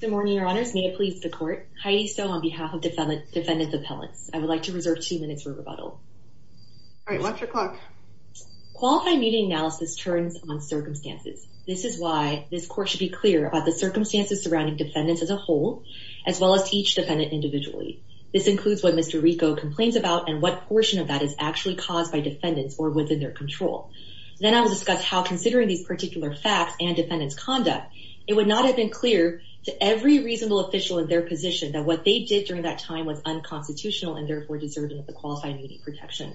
Good morning, Your Honors. May it please the court. Heidi Stone on behalf of Defendant Appellants. I would like to reserve two minutes for rebuttal. All right, what's your clock? Qualified meeting analysis turns on circumstances. This is why this court should be clear about the circumstances surrounding defendants as a whole, as well as each defendant individually. This includes what Mr. Rico complains about and what portion of that is actually caused by defendants or within their control. Then I will discuss how considering these particular facts and defendants conduct, it would not have been clear to every reasonable official in their position that what they did during that time was unconstitutional and therefore deserving of the qualified meeting protection.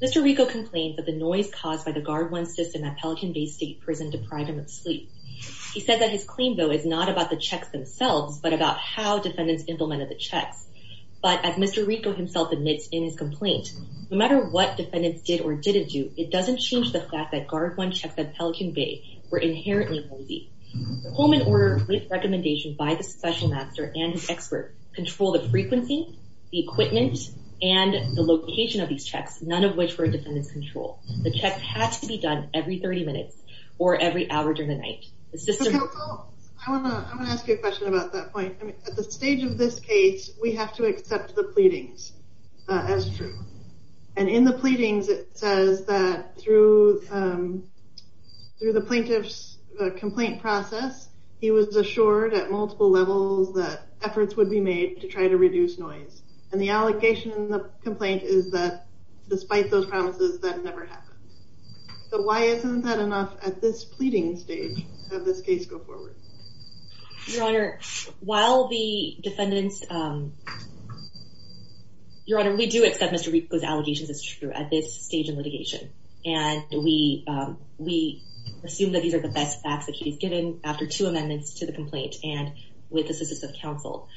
Mr. Rico complained that the noise caused by the Guard One system at Pelican Bay State Prison deprived him of sleep. He said that his claim, though, is not about the checks themselves, but about how defendants implemented the checks. But as Mr. Rico himself admits in his report, it doesn't change the fact that Guard One checks at Pelican Bay were inherently noisy. Coleman ordered recommendation by the Special Master and his expert control the frequency, the equipment, and the location of these checks, none of which were defendants control. The checks had to be done every 30 minutes or every hour during the night. I want to ask you a question about that point. At the stage of this case, we have to accept the through the plaintiff's complaint process, he was assured at multiple levels that efforts would be made to try to reduce noise. And the allegation in the complaint is that despite those promises, that never happened. But why isn't that enough at this pleading stage of this case go forward? Your Honor, while the defendants, um, Your Honor, we do accept Mr. Rico's allegations is true at this stage of litigation. And we, we assume that these are the best facts that he's given after two amendments to the complaint and with the assistance of counsel.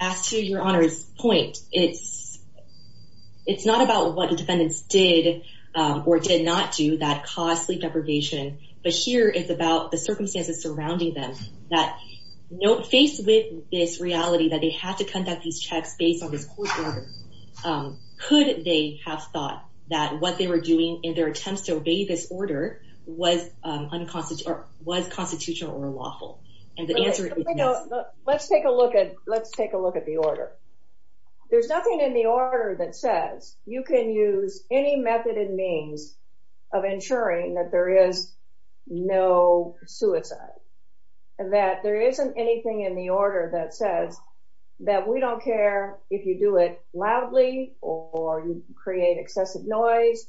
As to Your Honor's point, it's, it's not about what the defendants did, or did not do that cause sleep deprivation. But here is about the that they had to conduct these checks based on this court order. Could they have thought that what they were doing in their attempts to obey this order was unconstitutional or was constitutional or lawful? And the answer is no. Let's take a look at let's take a look at the order. There's nothing in the order that says you can use any method and means of ensuring that there is no suicide. And that there isn't anything in the order that says that we don't care if you do it loudly, or you create excessive noise.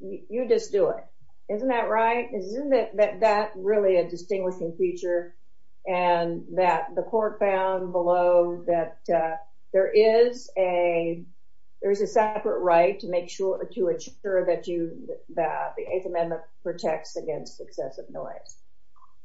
You just do it. Isn't that right? Isn't it that that really a distinguishing feature, and that the court found below that there is a there's a separate right to to ensure that you that the Eighth Amendment protects against excessive noise?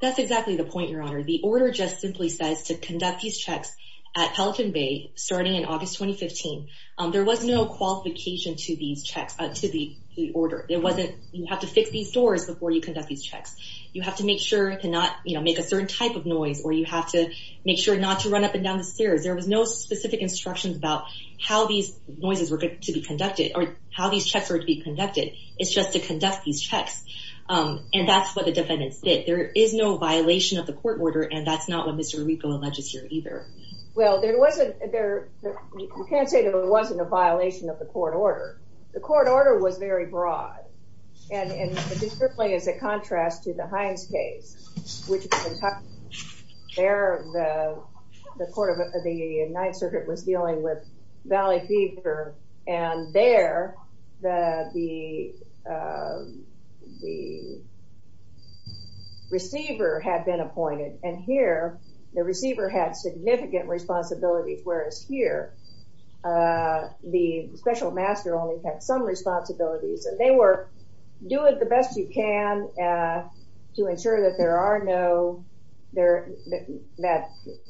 That's exactly the point, Your Honor. The order just simply says to conduct these checks at Pelican Bay starting in August 2015. There was no qualification to these checks to the order. It wasn't you have to fix these doors before you conduct these checks. You have to make sure to not you know, make a certain type of noise or you have to make sure not to run up and down the stairs. There was no specific instructions about how these noises were going to be conducted or how these checks were to be conducted. It's just to conduct these checks. And that's what the defendants did. There is no violation of the court order. And that's not what Mr. Arrico alleges here either. Well, there wasn't there. You can't say that it wasn't a violation of the court order. The court order was very broad. And it is a contrast to the Hines case, which the receiver had been appointed. And here, the receiver had significant responsibilities, whereas here, the special master only had some responsibilities. And they were doing the best you can to ensure that there are no there that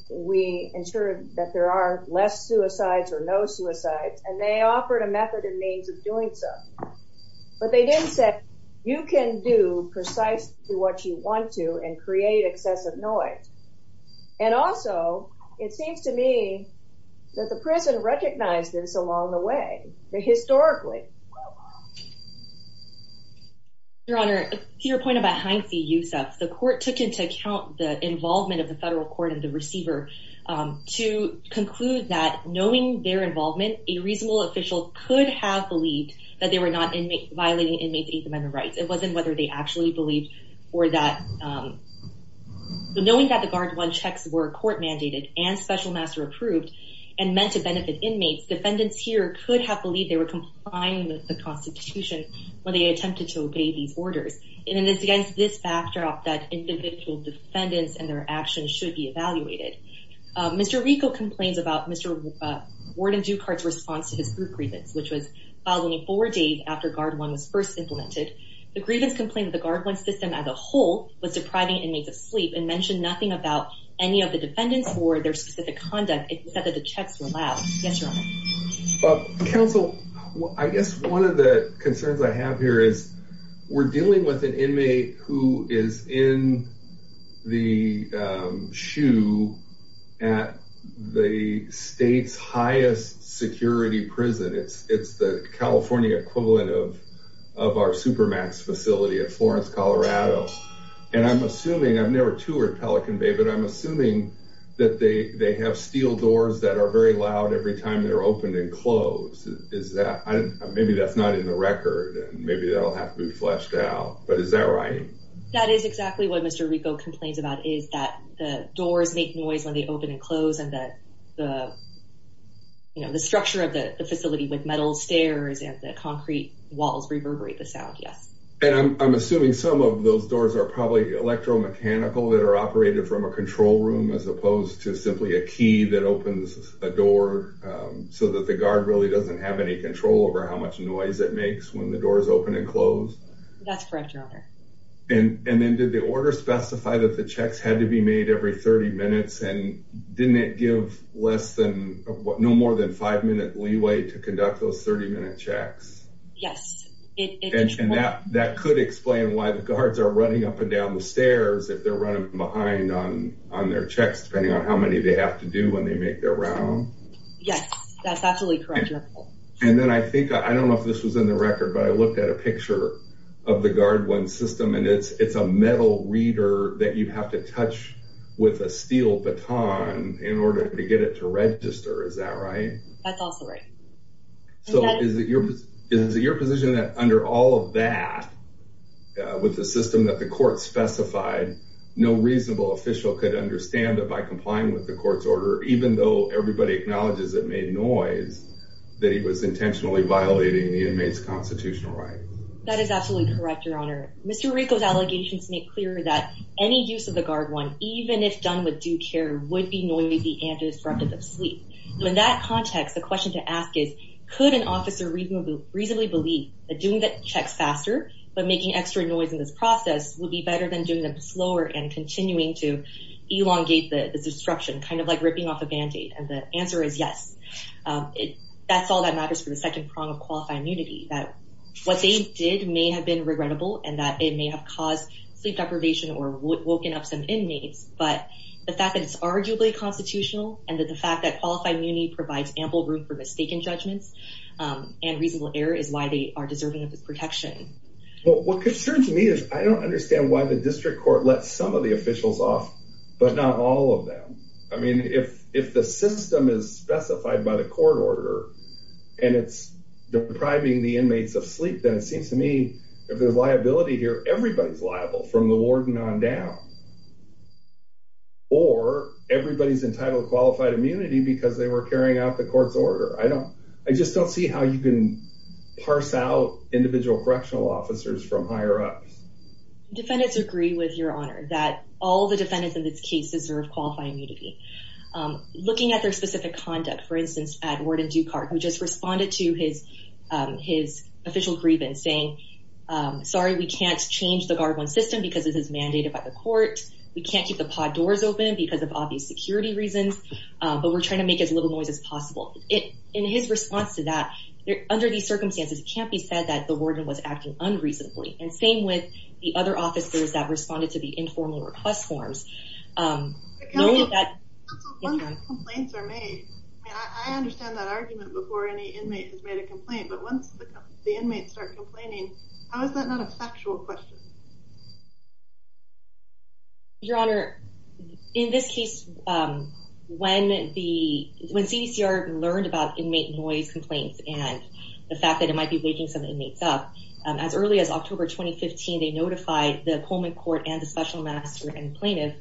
we ensure that there are less suicides or no suicides. And they offered a method and means of doing so. But they didn't say you can do precisely what you want to and create excessive noise. And also, it seems to me that the prison recognized this along the way, historically. Your Honor, to your point about Hines v. Yousef, the court took into account the involvement of the federal court and the receiver to conclude that knowing their involvement, a reasonable official could have believed that they were not violating inmates' Eighth Amendment rights. It wasn't whether they actually believed or not. Knowing that the Guard One checks were court mandated and special master approved and meant to benefit inmates, defendants here could have believed they were complying with the Constitution when they attempted to obey these orders. And it should be evaluated. Mr. Rico complains about Mr. Warden Dukart's response to his group grievance, which was filed only four days after Guard One was first implemented. The grievance complained that the Guard One system as a whole was depriving inmates of sleep and mentioned nothing about any of the defendants or their specific conduct, except that the checks were loud. Yes, Your Honor. Counsel, I guess one of the concerns I have here is we're dealing with an inmate who is in the shoe at the state's highest security prison. It's the California equivalent of of our Supermax facility at Florence, Colorado. And I'm assuming, I've never toured Pelican Bay, but I'm assuming that they have steel doors that are very loud every time they're opened and closed. Maybe that's not in the record and maybe that'll have to be fleshed out, but is that right? That is exactly what Mr. Rico complains about, is that the doors make noise when they open and close and that the structure of the facility with metal stairs and the concrete walls reverberate the sound. Yes. And I'm assuming some of those doors are probably electromechanical that are operated from a control room as opposed to simply a key that opens a door so that the guard really doesn't have any control over how much noise it makes when the door is open and That's correct, Your Honor. And then did the order specify that the checks had to be made every 30 minutes and didn't it give less than, no more than five minute leeway to conduct those 30 minute checks? Yes. And that could explain why the guards are running up and down the stairs if they're running behind on their checks depending on how many they have to do when they make their round? Yes, that's absolutely correct, Your Honor. And then I think, I don't know if this was in the of the Guard One system and it's a metal reader that you have to touch with a steel baton in order to get it to register, is that right? That's also right. So is it your position that under all of that, with the system that the court specified, no reasonable official could understand it by complying with the court's order even though everybody acknowledges it made noise that he is intentionally violating the inmate's constitutional right? That is absolutely correct, Your Honor. Mr. Rico's allegations make clear that any use of the Guard One, even if done with due care, would be noisy and disruptive of sleep. So in that context, the question to ask is, could an officer reasonably believe that doing the checks faster but making extra noise in this process would be better than doing them slower and continuing to elongate the disruption, kind of like ripping off a band-aid? And the answer is yes. It that's all that matters for the second prong of qualified immunity, that what they did may have been regrettable and that it may have caused sleep deprivation or woken up some inmates. But the fact that it's arguably constitutional and that the fact that qualified immunity provides ample room for mistaken judgments and reasonable error is why they are deserving of this protection. Well, what concerns me is I don't understand why the district court let some of the officials off, but not all of them. I mean, if the system is specified by the court order and it's depriving the inmates of sleep, then it seems to me if there's liability here, everybody's liable, from the warden on down. Or everybody's entitled to qualified immunity because they were carrying out the court's order. I just don't see how you can parse out individual correctional officers from higher up. Defendants agree with your honor that all the defendants in this case deserve qualified immunity. Looking at their specific conduct, for instance, at Warden Dukart, who just responded to his official grievance saying, sorry, we can't change the guard one system because this is mandated by the court. We can't keep the pod doors open because of obvious security reasons, but we're trying to make as little noise as possible. In his response to that, under these circumstances, it can't be said that the warden was acting unreasonably. And same with the other officers that responded to the informal request forms. I mean, I understand that argument before any inmate has made a complaint, but once the inmates start complaining, how is that not a factual question? Your honor, in this case, when the, when CDCR learned about inmate noise complaints and the fact that it might be waking some inmates up, as early as October, 2015, they notified the Pullman court and the special master and plaintiff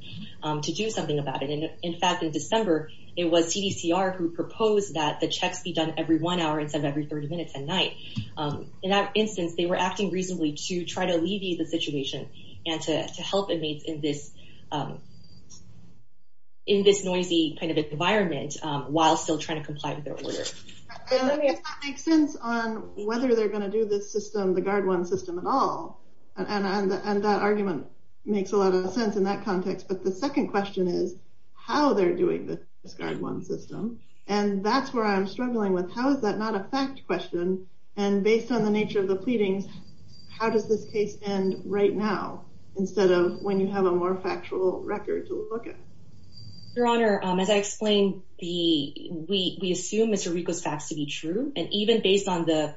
to do something about it. And in fact, in December, it was CDCR who proposed that the checks be done every one hour instead of every 30 minutes at night. In that instance, they were acting reasonably to try to alleviate the situation and to help inmates in this noisy kind of environment, while still trying to comply with their order. It does not make sense on whether they're going to do this system, the Guard One system at all. And that argument makes a lot of sense in that context. But the second question is how they're doing this Guard One system. And that's where I'm struggling with, how is that not a fact question? And based on the nature of the pleadings, how does this case end right now, instead of when you have a more factual record to look at? Your honor, as I explained, the, we, we assume Mr. Rico's facts to be true. And even based on the,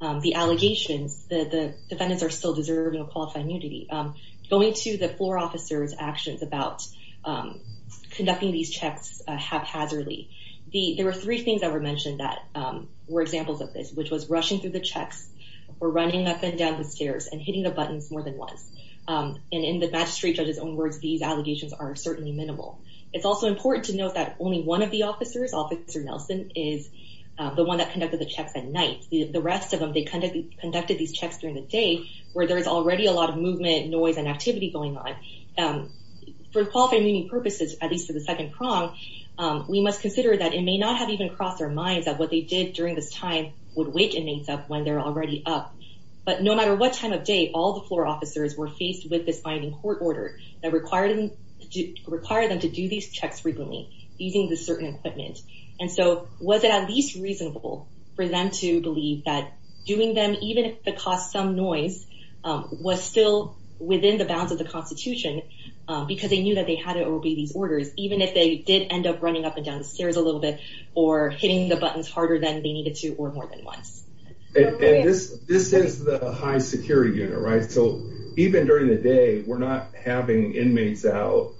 the allegations that the defendants are still deserving of qualified immunity, going to the floor officer's actions about conducting these checks haphazardly. The, there were three things that were mentioned that were examples of this, which was rushing through the checks or running up and down the stairs and hitting the buttons more than once. And in the magistrate judge's own words, these allegations are certainly minimal. It's also important to note that only one of the officers, Officer Nelson, is the one that conducted the checks at night. The rest of them, they conducted, conducted these checks during the day, where there's already a lot of movement, noise, and activity going on. For qualified immunity purposes, at least for the second prong, we must consider that it may not have even crossed their minds that what they did during this time would wake inmates up when they're already up. But no matter what time of day, all the floor officers were faced with this binding court order that required them, required them to do these checks frequently, using this certain equipment. And so was it at least reasonable for them to believe that doing them, even if it costs some noise, was still within the bounds of the Constitution because they knew that they had to obey these orders, even if they did end up running up and more than once. And this, this is the high security unit, right? So even during the day, we're not having inmates out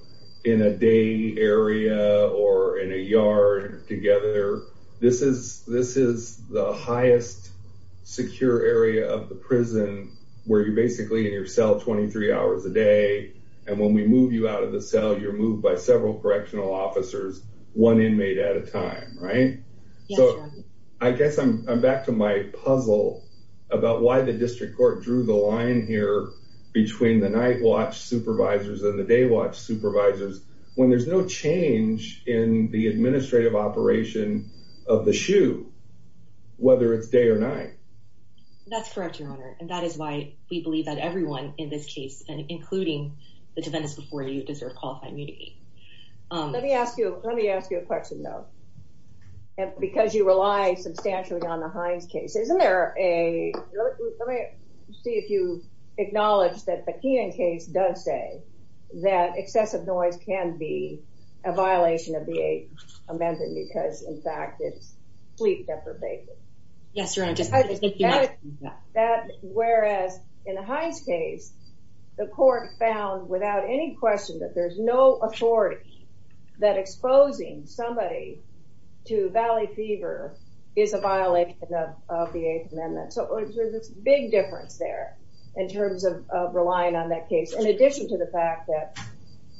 in a day area or in a yard together. This is, this is the highest secure area of the prison where you're basically in your cell 23 hours a day, and when we move you out of the cell, you're moved by several correctional officers, one inmate at a time, right? So I guess I'm back to my puzzle about why the district court drew the line here between the night watch supervisors and the day watch supervisors when there's no change in the administrative operation of the SHU, whether it's day or night. That's correct, your honor. And that is why we believe that everyone in this case, including the defendants before you, deserve qualifying immunity. Let me ask you, let me ask you a question though, because you rely substantially on the Hines case. Isn't there a, let me see if you acknowledge that the Keenan case does say that excessive noise can be a violation of the eighth amendment because, in fact, it's sleep deprivation. Yes, your honor. Whereas in the Hines case, the court found without any question that there's no authority that exposing somebody to valley fever is a violation of the eighth amendment. So there's a big difference there in terms of relying on that case, in addition to the fact that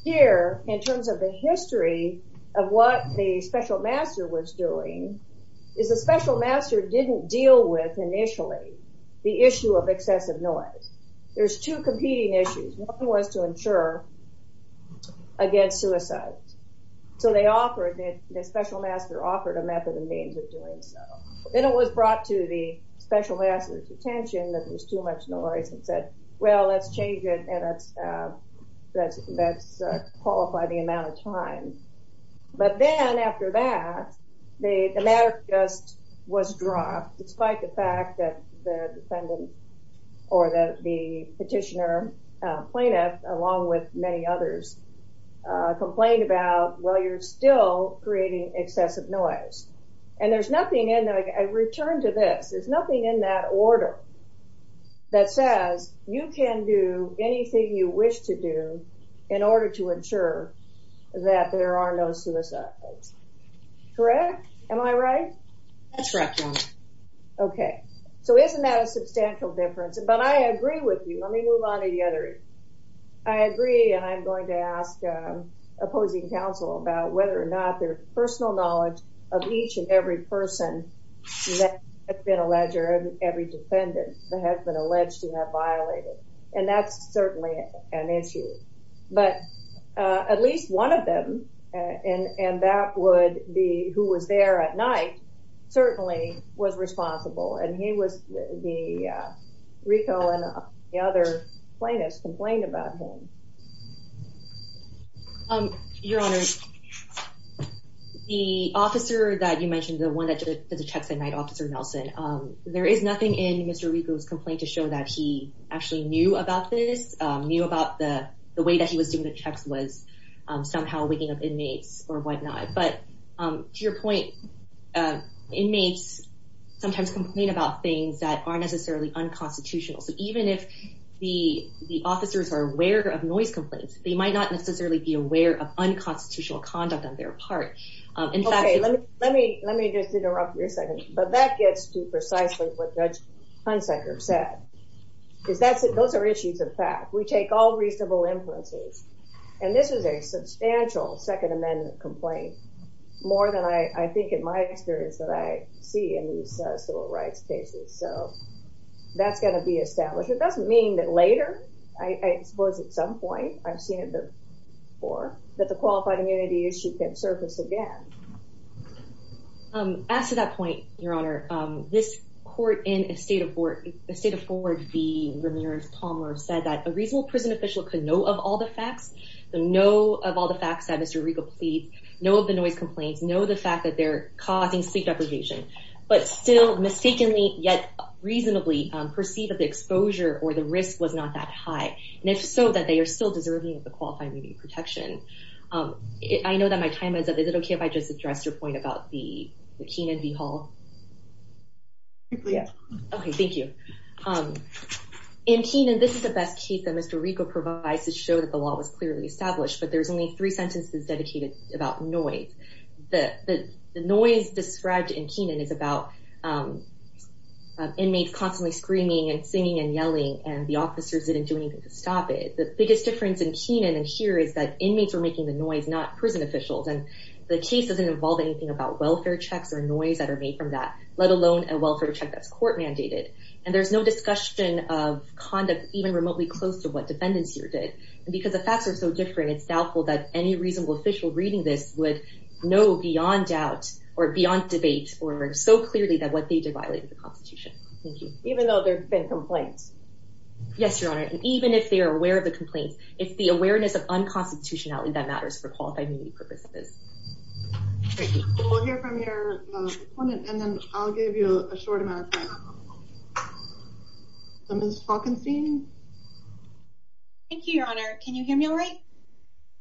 here, in terms of the history of what the special master was doing, is the special master didn't deal with initially the issue of excessive noise. There's two competing issues. One was to ensure against suicide. So they offered, the special master offered a method and means of doing so. Then it was brought to the special master's attention that there's too much noise and said, well, let's change it and let's qualify the amount of time. But then after that, the matter just was dropped despite the fact that the defendant or that the petitioner plaintiff, along with many others, complained about, well, you're still creating excessive noise. And there's nothing in there, I return to this, there's nothing in that order that says you can do anything you wish to do in order to ensure that there are no suicides. Correct? Am I right? That's correct. Okay. So isn't that a substantial difference, but I agree with you. Let me move on to the other. I agree. And I'm going to ask opposing counsel about whether or not their personal knowledge of each and every person that has been alleged or every defendant that has been alleged to have violated. And that's certainly an issue. But at least one of them, and that would be who was there at night, certainly was responsible. And he was, Rico and the other plaintiffs complained about him. Your Honor, the officer that you mentioned, the one that did the checks at night, Officer Nelson, there is nothing in Mr. Rico's complaint to show that he actually knew about this, knew about the way that he was doing the checks was somehow waking up inmates or whatnot. But to your point, inmates sometimes complain about things that aren't necessarily unconstitutional. So even if the officers are aware of noise complaints, they might not necessarily be aware of unconstitutional conduct on their part. Okay. Let me just interrupt you a second. But that gets to precisely what Judge Hunsaker said, because those are issues of fact. We take all reasonable influences. And this is a substantial Second Amendment complaint, more than I think in my experience that I see in these civil rights cases. So that's going to be established. It doesn't mean that later, I suppose at some point, I've seen it before, that the qualified immunity issue can surface again. As to that point, Your Honor, this court in a state of Ford v. Ramirez-Palmer said that a reasonable prison official could know of all the facts, know of all the facts that Mr. Rico pleads, know of the noise complaints, know the fact that they're causing sleep deprivation, but still mistakenly, yet reasonably, perceive that the exposure or the risk was not that high. And if so, that they are still deserving of the qualified immunity protection. I know that my time is up. Is it okay if I just address your point about the Keenan v. Hall? Okay, thank you. In Keenan, this is the best case that Mr. Rico provides to show that the law was clearly established, but there's only three sentences dedicated about noise. The noise described in Keenan is about inmates constantly screaming and singing and yelling, and the officers didn't do anything to stop it. The biggest difference in Keenan and here is that inmates were making the noise, not prison officials. And the case doesn't involve anything about welfare checks or noise that are made from that, let alone a welfare check that's court mandated. And there's no discussion of conduct even remotely close to what defendants here did. And because the facts are so different, it's doubtful that any reasonable official reading this would know beyond doubt or beyond debate or so clearly that what they did violated the Constitution. Thank you. Even though there's been complaints? Yes, Your Honor. And even if they are aware of the complaints, it's the awareness of unconstitutionality that matters for qualified immunity purposes. Great. We'll hear from your opponent, and then I'll give you a short amount of time. So Ms. Faulkenstein? Thank you, Your Honor. Can you hear me all right?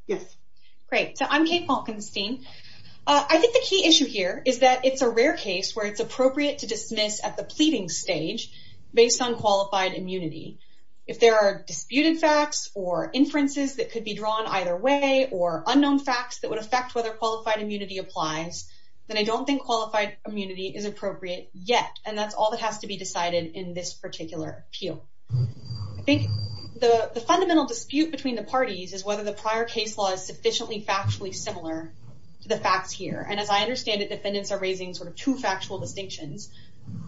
Yes. Great. I'm Kate Faulkenstein. I think the key issue here is that it's a rare case where it's appropriate to dismiss at the pleading stage based on qualified immunity. If there are disputed facts or inferences that could be drawn either way or unknown facts that would affect whether qualified immunity applies, then I don't think qualified immunity is appropriate yet. And that's all that has to be decided in this particular appeal. I think the fundamental dispute between the parties is whether the prior case law is sufficiently factually similar to the facts here. And as I understand it, defendants are raising sort of two factual distinctions.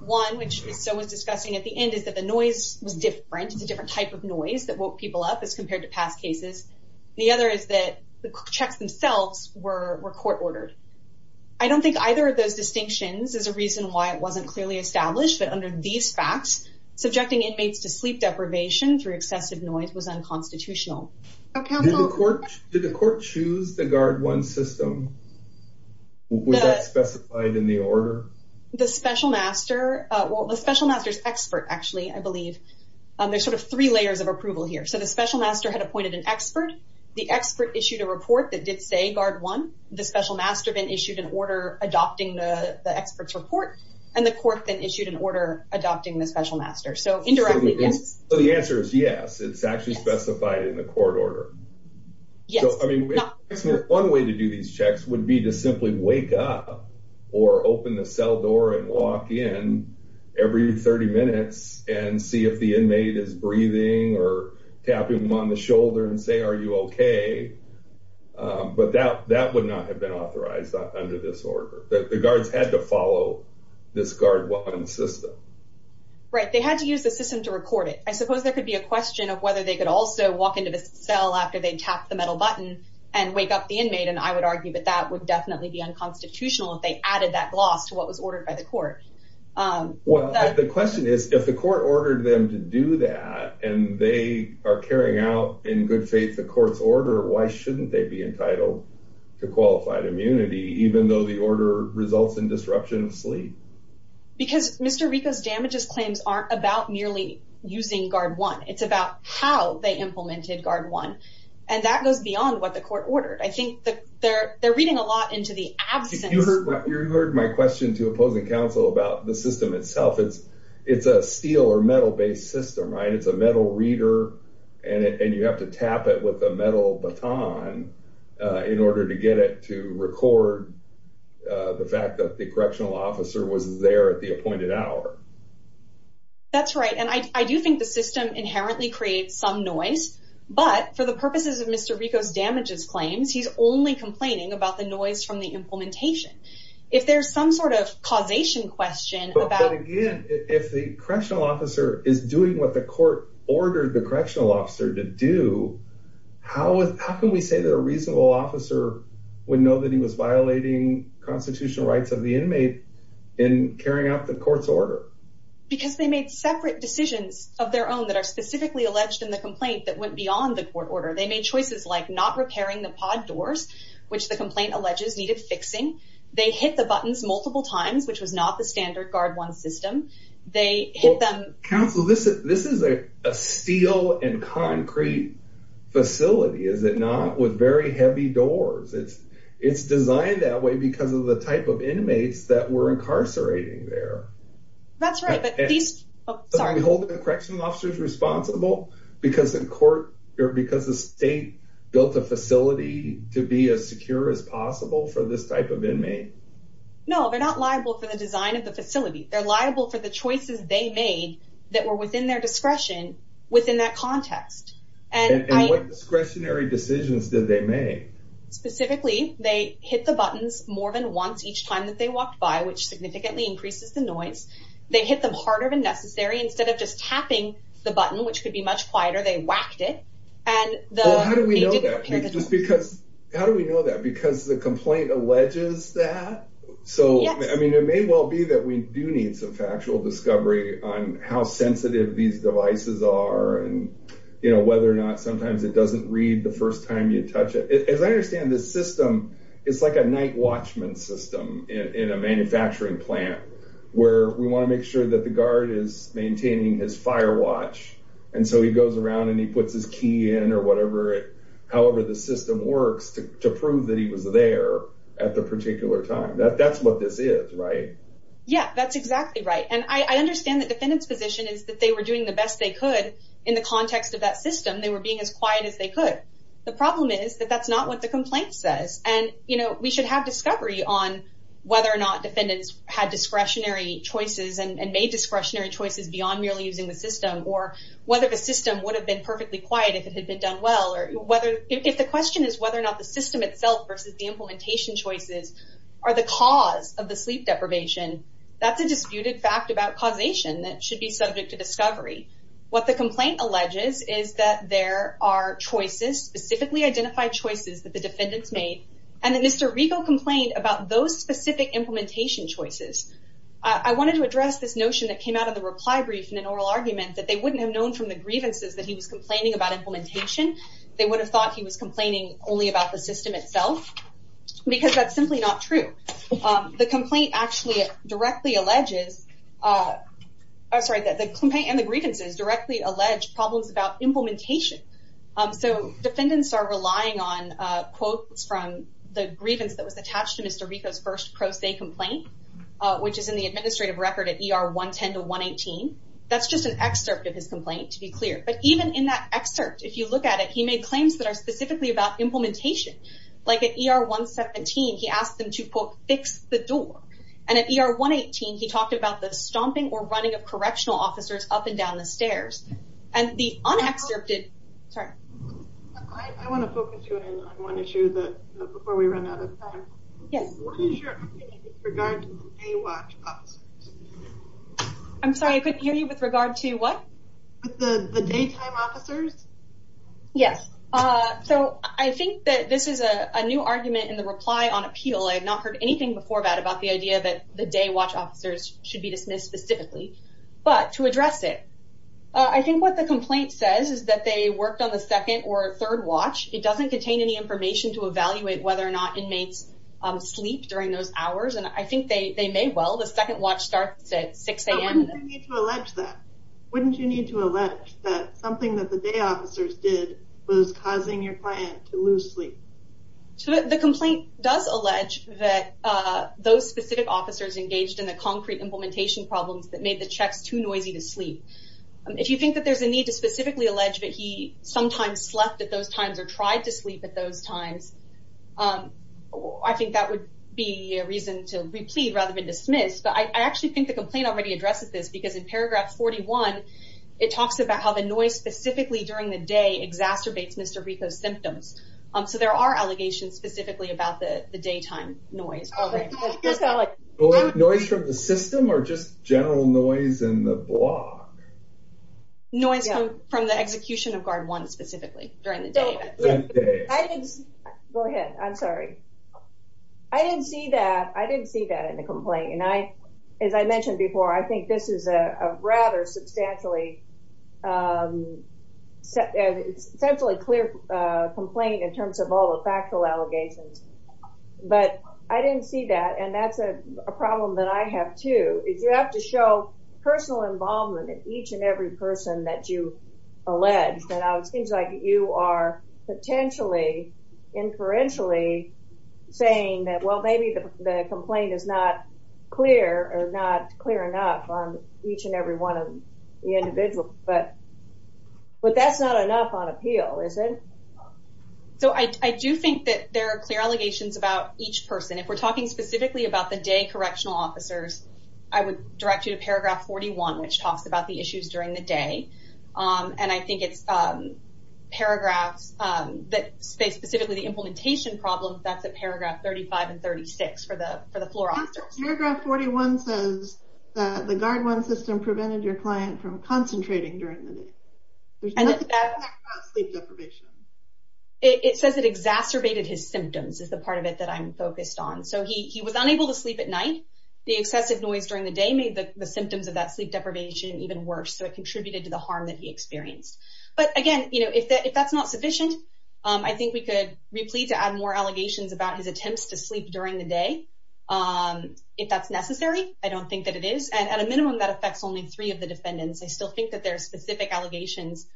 One, which is so was discussing at the end, is that the noise was different. It's a different type of noise that woke people up as compared to past cases. The other is that the checks themselves were court ordered. I don't think either of those distinctions is a reason why it wasn't clearly established, but under these facts, subjecting inmates to sleep deprivation through excessive noise was unconstitutional. Did the court choose the Guard 1 system? Was that specified in the order? The special master, well the special master's expert actually, I believe. There's sort of three layers of approval here. So the special master had appointed an expert. The expert issued a report that did say Guard 1. The special master then issued an order adopting the expert's report. And the court then issued an order adopting the special master. So indirectly, yes. So the answer is yes, it's actually specified in the court order. Yes. So I mean, one way to do these checks would be to simply wake up or open the cell door and walk in every 30 minutes and see if the inmate is breathing or tapping them on the shoulder and say, are you okay? But that would not have been authorized under this order. The guards had to record it. I suppose there could be a question of whether they could also walk into the cell after they tapped the metal button and wake up the inmate. And I would argue that that would definitely be unconstitutional if they added that gloss to what was ordered by the court. Well, the question is, if the court ordered them to do that and they are carrying out, in good faith, the court's order, why shouldn't they be entitled to qualified immunity, even though the order results in disruption of sleep? Because Mr. Rico's damages claims aren't about merely using Guard One. It's about how they implemented Guard One. And that goes beyond what the court ordered. I think they're reading a lot into the absence. You heard my question to opposing counsel about the system itself. It's a steel or metal based system, right? It's a metal reader and you have to tap it with a metal baton in order to get it to record the fact that the inmate was there at the appointed hour. That's right. And I do think the system inherently creates some noise. But for the purposes of Mr. Rico's damages claims, he's only complaining about the noise from the implementation. If there's some sort of causation question about... But again, if the correctional officer is doing what the court ordered the correctional officer to do, how can we say that a reasonable officer would know that he was violating constitutional rights of the inmate in carrying out the court's order? Because they made separate decisions of their own that are specifically alleged in the complaint that went beyond the court order. They made choices like not repairing the pod doors, which the complaint alleges needed fixing. They hit the buttons multiple times, which was not the standard Guard One system. Counsel, this is a steel and concrete facility, is it not? With very heavy doors. It's designed that way because of the type of inmates that were incarcerating there. That's right. But these... Sorry. Are we holding the correctional officers responsible because the state built a facility to be as secure as possible for this type of inmate? No, they're not liable for the design of the facility. They're liable for the choices they made that were within their discretion within that context. And what discretionary decisions did they make? Specifically, they hit the buttons more than once each time that they walked by, which significantly increases the noise. They hit them harder than necessary. Instead of just tapping the button, which could be much quieter, they whacked it. How do we know that? Because the complaint alleges that? So, I mean, it may well be that we do need some factual discovery on how sensitive these devices are and whether or not sometimes it doesn't read the first time you touch it. As I understand the system, it's like a night watchman system in a manufacturing plant where we want to make sure that the guard is maintaining his fire watch. And so he goes around and he puts his key in or whatever, however the system works to prove that he was there at the particular time. That's what this is, right? Yeah, that's exactly right. And I understand the defendant's position is that they were doing the best they could in the context of that system. They were being as quiet as they could. The problem is that that's not what the complaint says. And we should have discovery on whether or not defendants had discretionary choices and made discretionary choices beyond merely using the system or whether the system would have been perfectly quiet if it had been done well. If the question is whether or not the system itself versus the implementation choices are the cause of the sleep deprivation, that's a disputed fact about causation that should be subject to discovery. What the complaint alleges is that there are choices, specifically identified choices that the defendants made, and that Mr. Rego complained about those specific implementation choices. I wanted to address this notion that came out of the reply brief in an oral argument that they wouldn't have known from the grievances that he was complaining about implementation. They would have thought he was complaining only about the system itself, because that's simply not true. The complaint actually directly alleges, sorry, and the grievances directly allege problems about implementation. So defendants are relying on quotes from the grievance that was attached to Mr. Rego's first pro se complaint, which is in the administrative record at ER 110 to 118. That's just an excerpt of his complaint to be clear. But even in that excerpt, if you look at it, he made claims that are specifically about implementation. Like at ER 117, he asked them to, quote, fix the door. And at ER 118, he talked about the stomping or running of correctional officers up and down the stairs. And the un-excerpted... Sorry. I want to focus you in on one issue before we run out of time. Yes. What is your opinion with regard to the day watch officers? I'm sorry, I couldn't hear you with regard to what? With the daytime officers? Yes. So I think that this is a new argument in the reply on appeal. I had not heard anything before that about the idea that the day watch officers should be dismissed specifically. But to address it, I think what the complaint says is that they worked on the second or third watch. It doesn't contain any information to evaluate whether or not inmates sleep during those hours. And I think they may well. The second watch starts at 6 a.m. But wouldn't you need to allege that? Wouldn't you need to allege that something that the day officers did was causing your client to lose sleep? So the complaint does allege that those specific officers engaged in the concrete implementation problems that made the checks too noisy to sleep. If you think that there's a need to specifically allege that he sometimes slept at those times or tried to sleep at those times, I think that would be a reason to replead rather than dismiss. But I actually think the noise specifically during the day exacerbates Mr. Rico's symptoms. So there are allegations specifically about the daytime noise. Noise from the system or just general noise in the block? Noise from the execution of guard one specifically during the day. Go ahead. I'm sorry. I didn't see that. I didn't see that in the complaint. And as I mentioned before, I think this is a rather substantially, essentially clear complaint in terms of all the factual allegations. But I didn't see that. And that's a problem that I have too, is you have to show personal involvement in each and every person that you allege that seems like you are potentially inferentially saying that, well, maybe the complaint is not clear or not clear enough on each and every one of the individuals. But that's not enough on appeal, is it? So I do think that there are clear allegations about each person. If we're talking specifically about the day correctional officers, I would direct you to paragraph 41, which talks about issues during the day. And I think it's paragraphs, specifically the implementation problem, that's at paragraph 35 and 36 for the floor officers. Paragraph 41 says that the guard one system prevented your client from concentrating during the day. There's nothing there about sleep deprivation. It says it exacerbated his symptoms is the part of it that I'm focused on. So he was unable to sleep at night. The excessive noise during the day made the symptoms of that sleep deprivation even worse. So it contributed to the harm that he experienced. But again, if that's not sufficient, I think we could replete to add more allegations about his attempts to sleep during the day. If that's necessary, I don't think that it is. And at a minimum, that affects only three of the defendants. I still think that there are specific allegations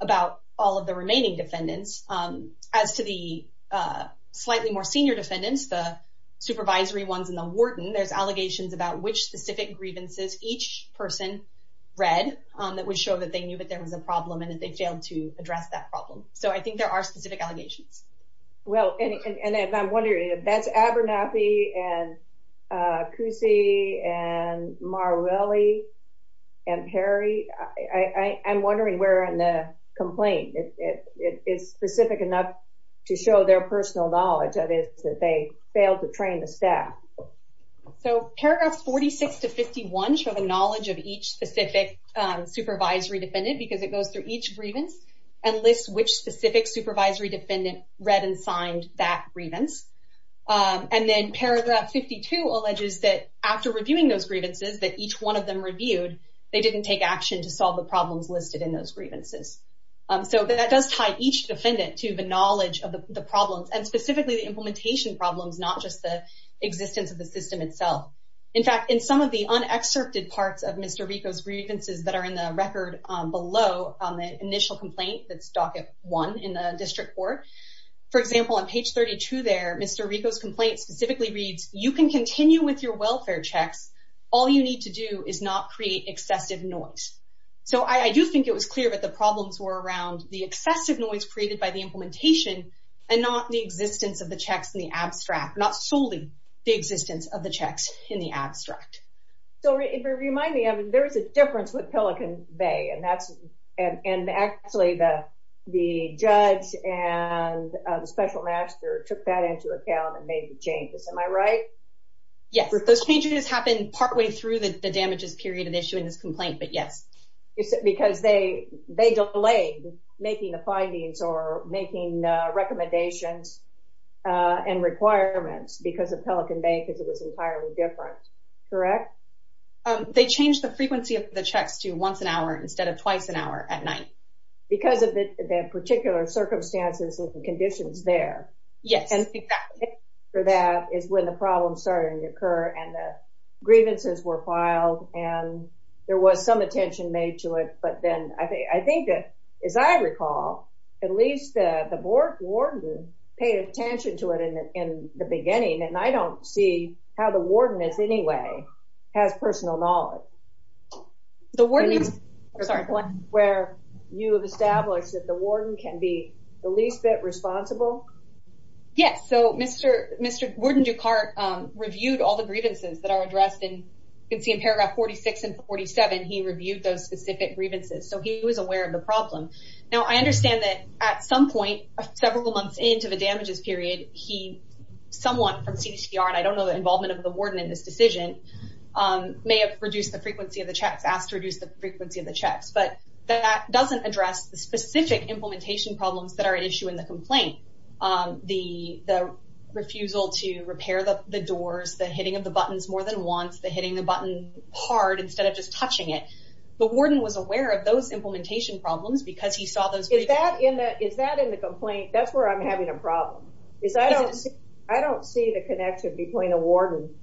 about all of the remaining defendants. As to the slightly more senior defendants, the supervisory ones and the warden, there's allegations about which specific grievances each person read that would show that they knew that there was a problem and that they failed to address that problem. So I think there are specific allegations. Well, and I'm wondering if that's Abernathy and Cousy and Marrelli and Perry. I'm wondering where in the complaint it is specific enough to show their personal knowledge of it that they failed to train the staff. So paragraphs 46 to 51 show the knowledge of each specific supervisory defendant because it goes through each grievance and lists which specific supervisory defendant read and signed that grievance. And then paragraph 52 alleges that after reviewing those grievances that each one of them reviewed, they didn't take action to solve the problems listed in those grievances. So that does tie each defendant to the knowledge of the problems and specifically the implementation problems, not just the existence of the system itself. In fact, in some of the unexcerpted parts of Mr. Rico's grievances that are in the record below on the initial complaint, that's docket one in the district court. For example, on page 32 there, Mr. Rico's complaint specifically reads, you can continue with your welfare checks. All you need to do is not create excessive noise. So I do think it was clear that the problems were around the excessive noise created by the implementation and not the existence of the checks in the abstract, not solely the existence of the checks in the abstract. So if you remind me, I mean, there is a difference with Pelican Bay and that's, and actually the judge and the special master took that into account and made the changes, am I right? Yes, those changes happened partway through the damages period of issuing this complaint, but yes. Is it because they delayed making the findings or making recommendations and requirements because of Pelican Bay because it was entirely different, correct? They changed the frequency of the checks to once an hour instead of twice an hour at night. Because of the particular circumstances and conditions there. Yes, exactly. For that is when the problems started to occur and the grievances were filed and there was some attention made to it, but then I think that, as I recall, at least the warden paid attention to it in the beginning and I don't see how the warden is anyway, has personal knowledge. The warden, I'm sorry, where you have established that the warden can be the least bit responsible? Yes, so Mr. Warden Dukart reviewed all the grievances that are addressed and you can see in paragraph 46 and 47, he reviewed those specific grievances, so he was aware of the problem. Now, I understand that at some point, several months into the damages period, he, someone from CDTR, and I don't know the involvement of the warden in this decision, may have reduced the frequency of the checks, asked to reduce the frequency of the checks, but that doesn't address the specific implementation problems that are at issue in the complaint. The refusal to repair the doors, the hitting of the buttons more than once, the hitting the button hard instead of just touching it, the warden was aware of those implementation problems because he saw those. Is that in the complaint? That's where I'm having a problem, is I don't see the connection between the warden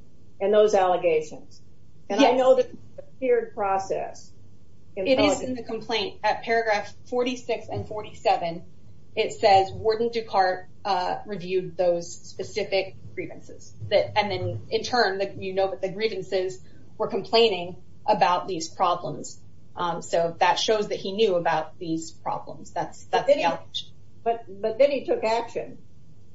and those allegations and I know that it's a feared process. It is in the complaint at paragraph 46 and 47, it says Warden Dukart reviewed those specific grievances that, and then in turn, that you know that the grievances were complaining about these problems, so that shows that he knew about these problems. That's the allegation. But then he took action.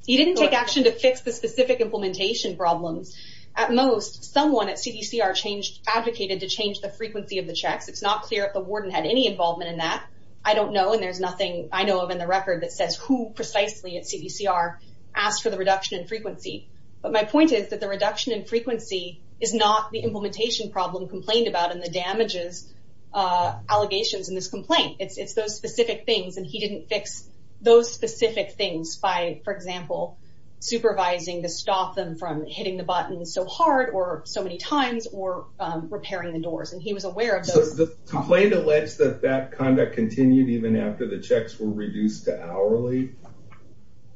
He didn't take action to fix the specific implementation problems. At most, someone at CDCR changed, advocated to change the frequency of the checks. It's not clear if the warden had any involvement in that. I don't know and there's nothing I know of in the record that says who precisely at CDCR asked for the reduction in frequency, but my point is that the reduction in frequency is not the implementation problem complained about in the damages, allegations in this complaint. It's those specific things and he didn't fix those specific things by, for example, supervising to stop them from hitting the buttons so hard or so many times or repairing the doors and he was aware of those. The complaint alleges that that conduct continued even after the checks were reduced to hourly.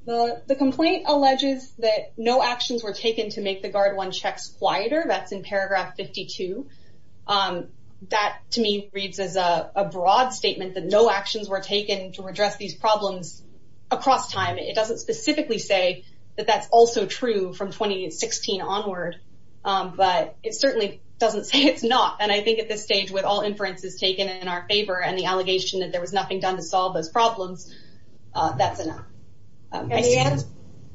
The complaint alleges that no actions were taken to make the Guard One checks quieter. That's in paragraph 52. That to me reads as a broad statement that no actions were taken to address these problems across time. It doesn't specifically say that that's also true from 2016 onward, but it certainly doesn't say it's not and I think at this stage with all inferences taken in our favor and the allegation that there was nothing done to solve those problems, that's enough. The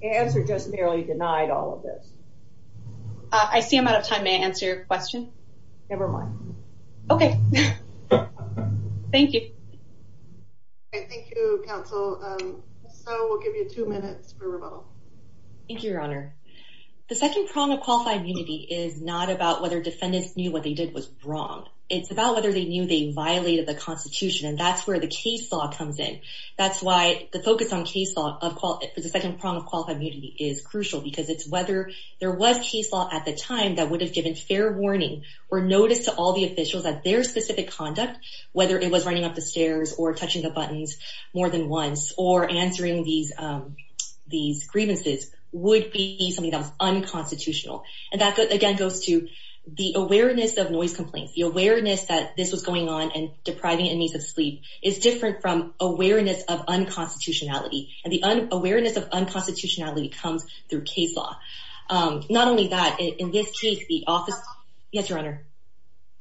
answer just merely denied all of this. I see I'm out of time. May I answer your question? Never mind. Okay, thank you. Thank you, counsel. So we'll give you two minutes for questions. So the second problem of qualified immunity is not about whether defendants knew what they did was wrong. It's about whether they knew they violated the Constitution and that's where the case law comes in. That's why the focus on case law of quality is the second problem of qualified immunity is crucial because it's whether there was case law at the time that would have given fair warning or notice to all the officials that their specific conduct, whether it was running up the stairs or touching the buttons more than once or answering these grievances would be unconstitutional. And that again goes to the awareness of noise complaints, the awareness that this was going on and depriving inmates of sleep is different from awareness of unconstitutionality and the awareness of unconstitutionality comes through case law. Not only that, in this case, the office... Yes, your honor.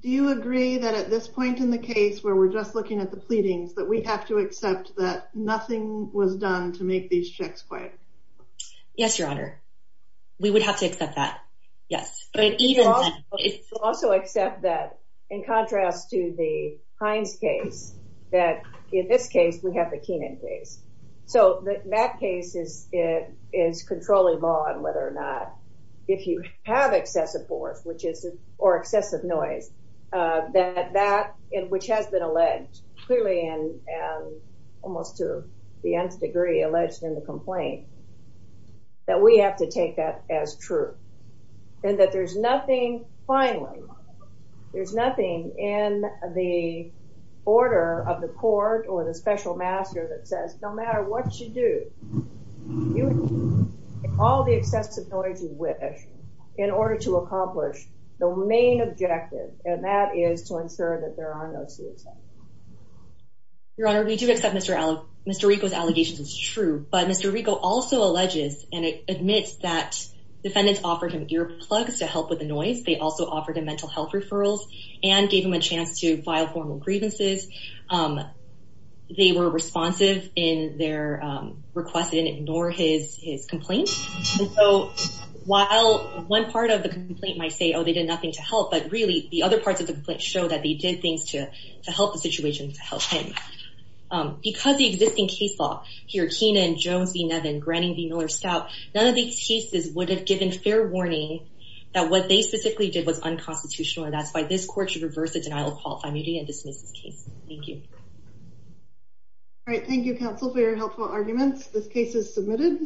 Do you agree that at this point in the case where we're just looking at the pleadings that we have to accept that nothing was done to make these checks quiet? Yes, your honor. We would have to accept that. Yes. But even... Also accept that in contrast to the Hines case that in this case, we have the Keenan case. So that case is controlling law and whether or not if you have excessive force or excessive noise that that which has been alleged clearly and almost to the nth degree alleged in the complaint that we have to take that as true and that there's nothing... Finally, there's nothing in the order of the court or the special master that says, no matter what you do, all the excessive noise you wish in order to accomplish the main objective, and that is to ensure that there are no suicides. Your honor, we do accept Mr. Rico's allegations as true, but Mr. Rico also alleges and admits that defendants offered him earplugs to help with the noise. They also offered him mental health referrals and gave him a chance to file formal grievances. They were responsive in their request and ignore his complaint. So while one part of the complaint might say, oh, they did nothing to help, but really the other parts of the complaint show that they did things to help the situation, to help him. Because the existing case law here, Keenan, Jones v. Nevin, Granning v. Miller-Stout, none of these cases would have given fair warning that what they specifically did was unconstitutional and that's why this court should reverse the denial of false immunity and dismiss this case. Thank you. All right. Thank you, counsel, for your helpful arguments. This case is submitted.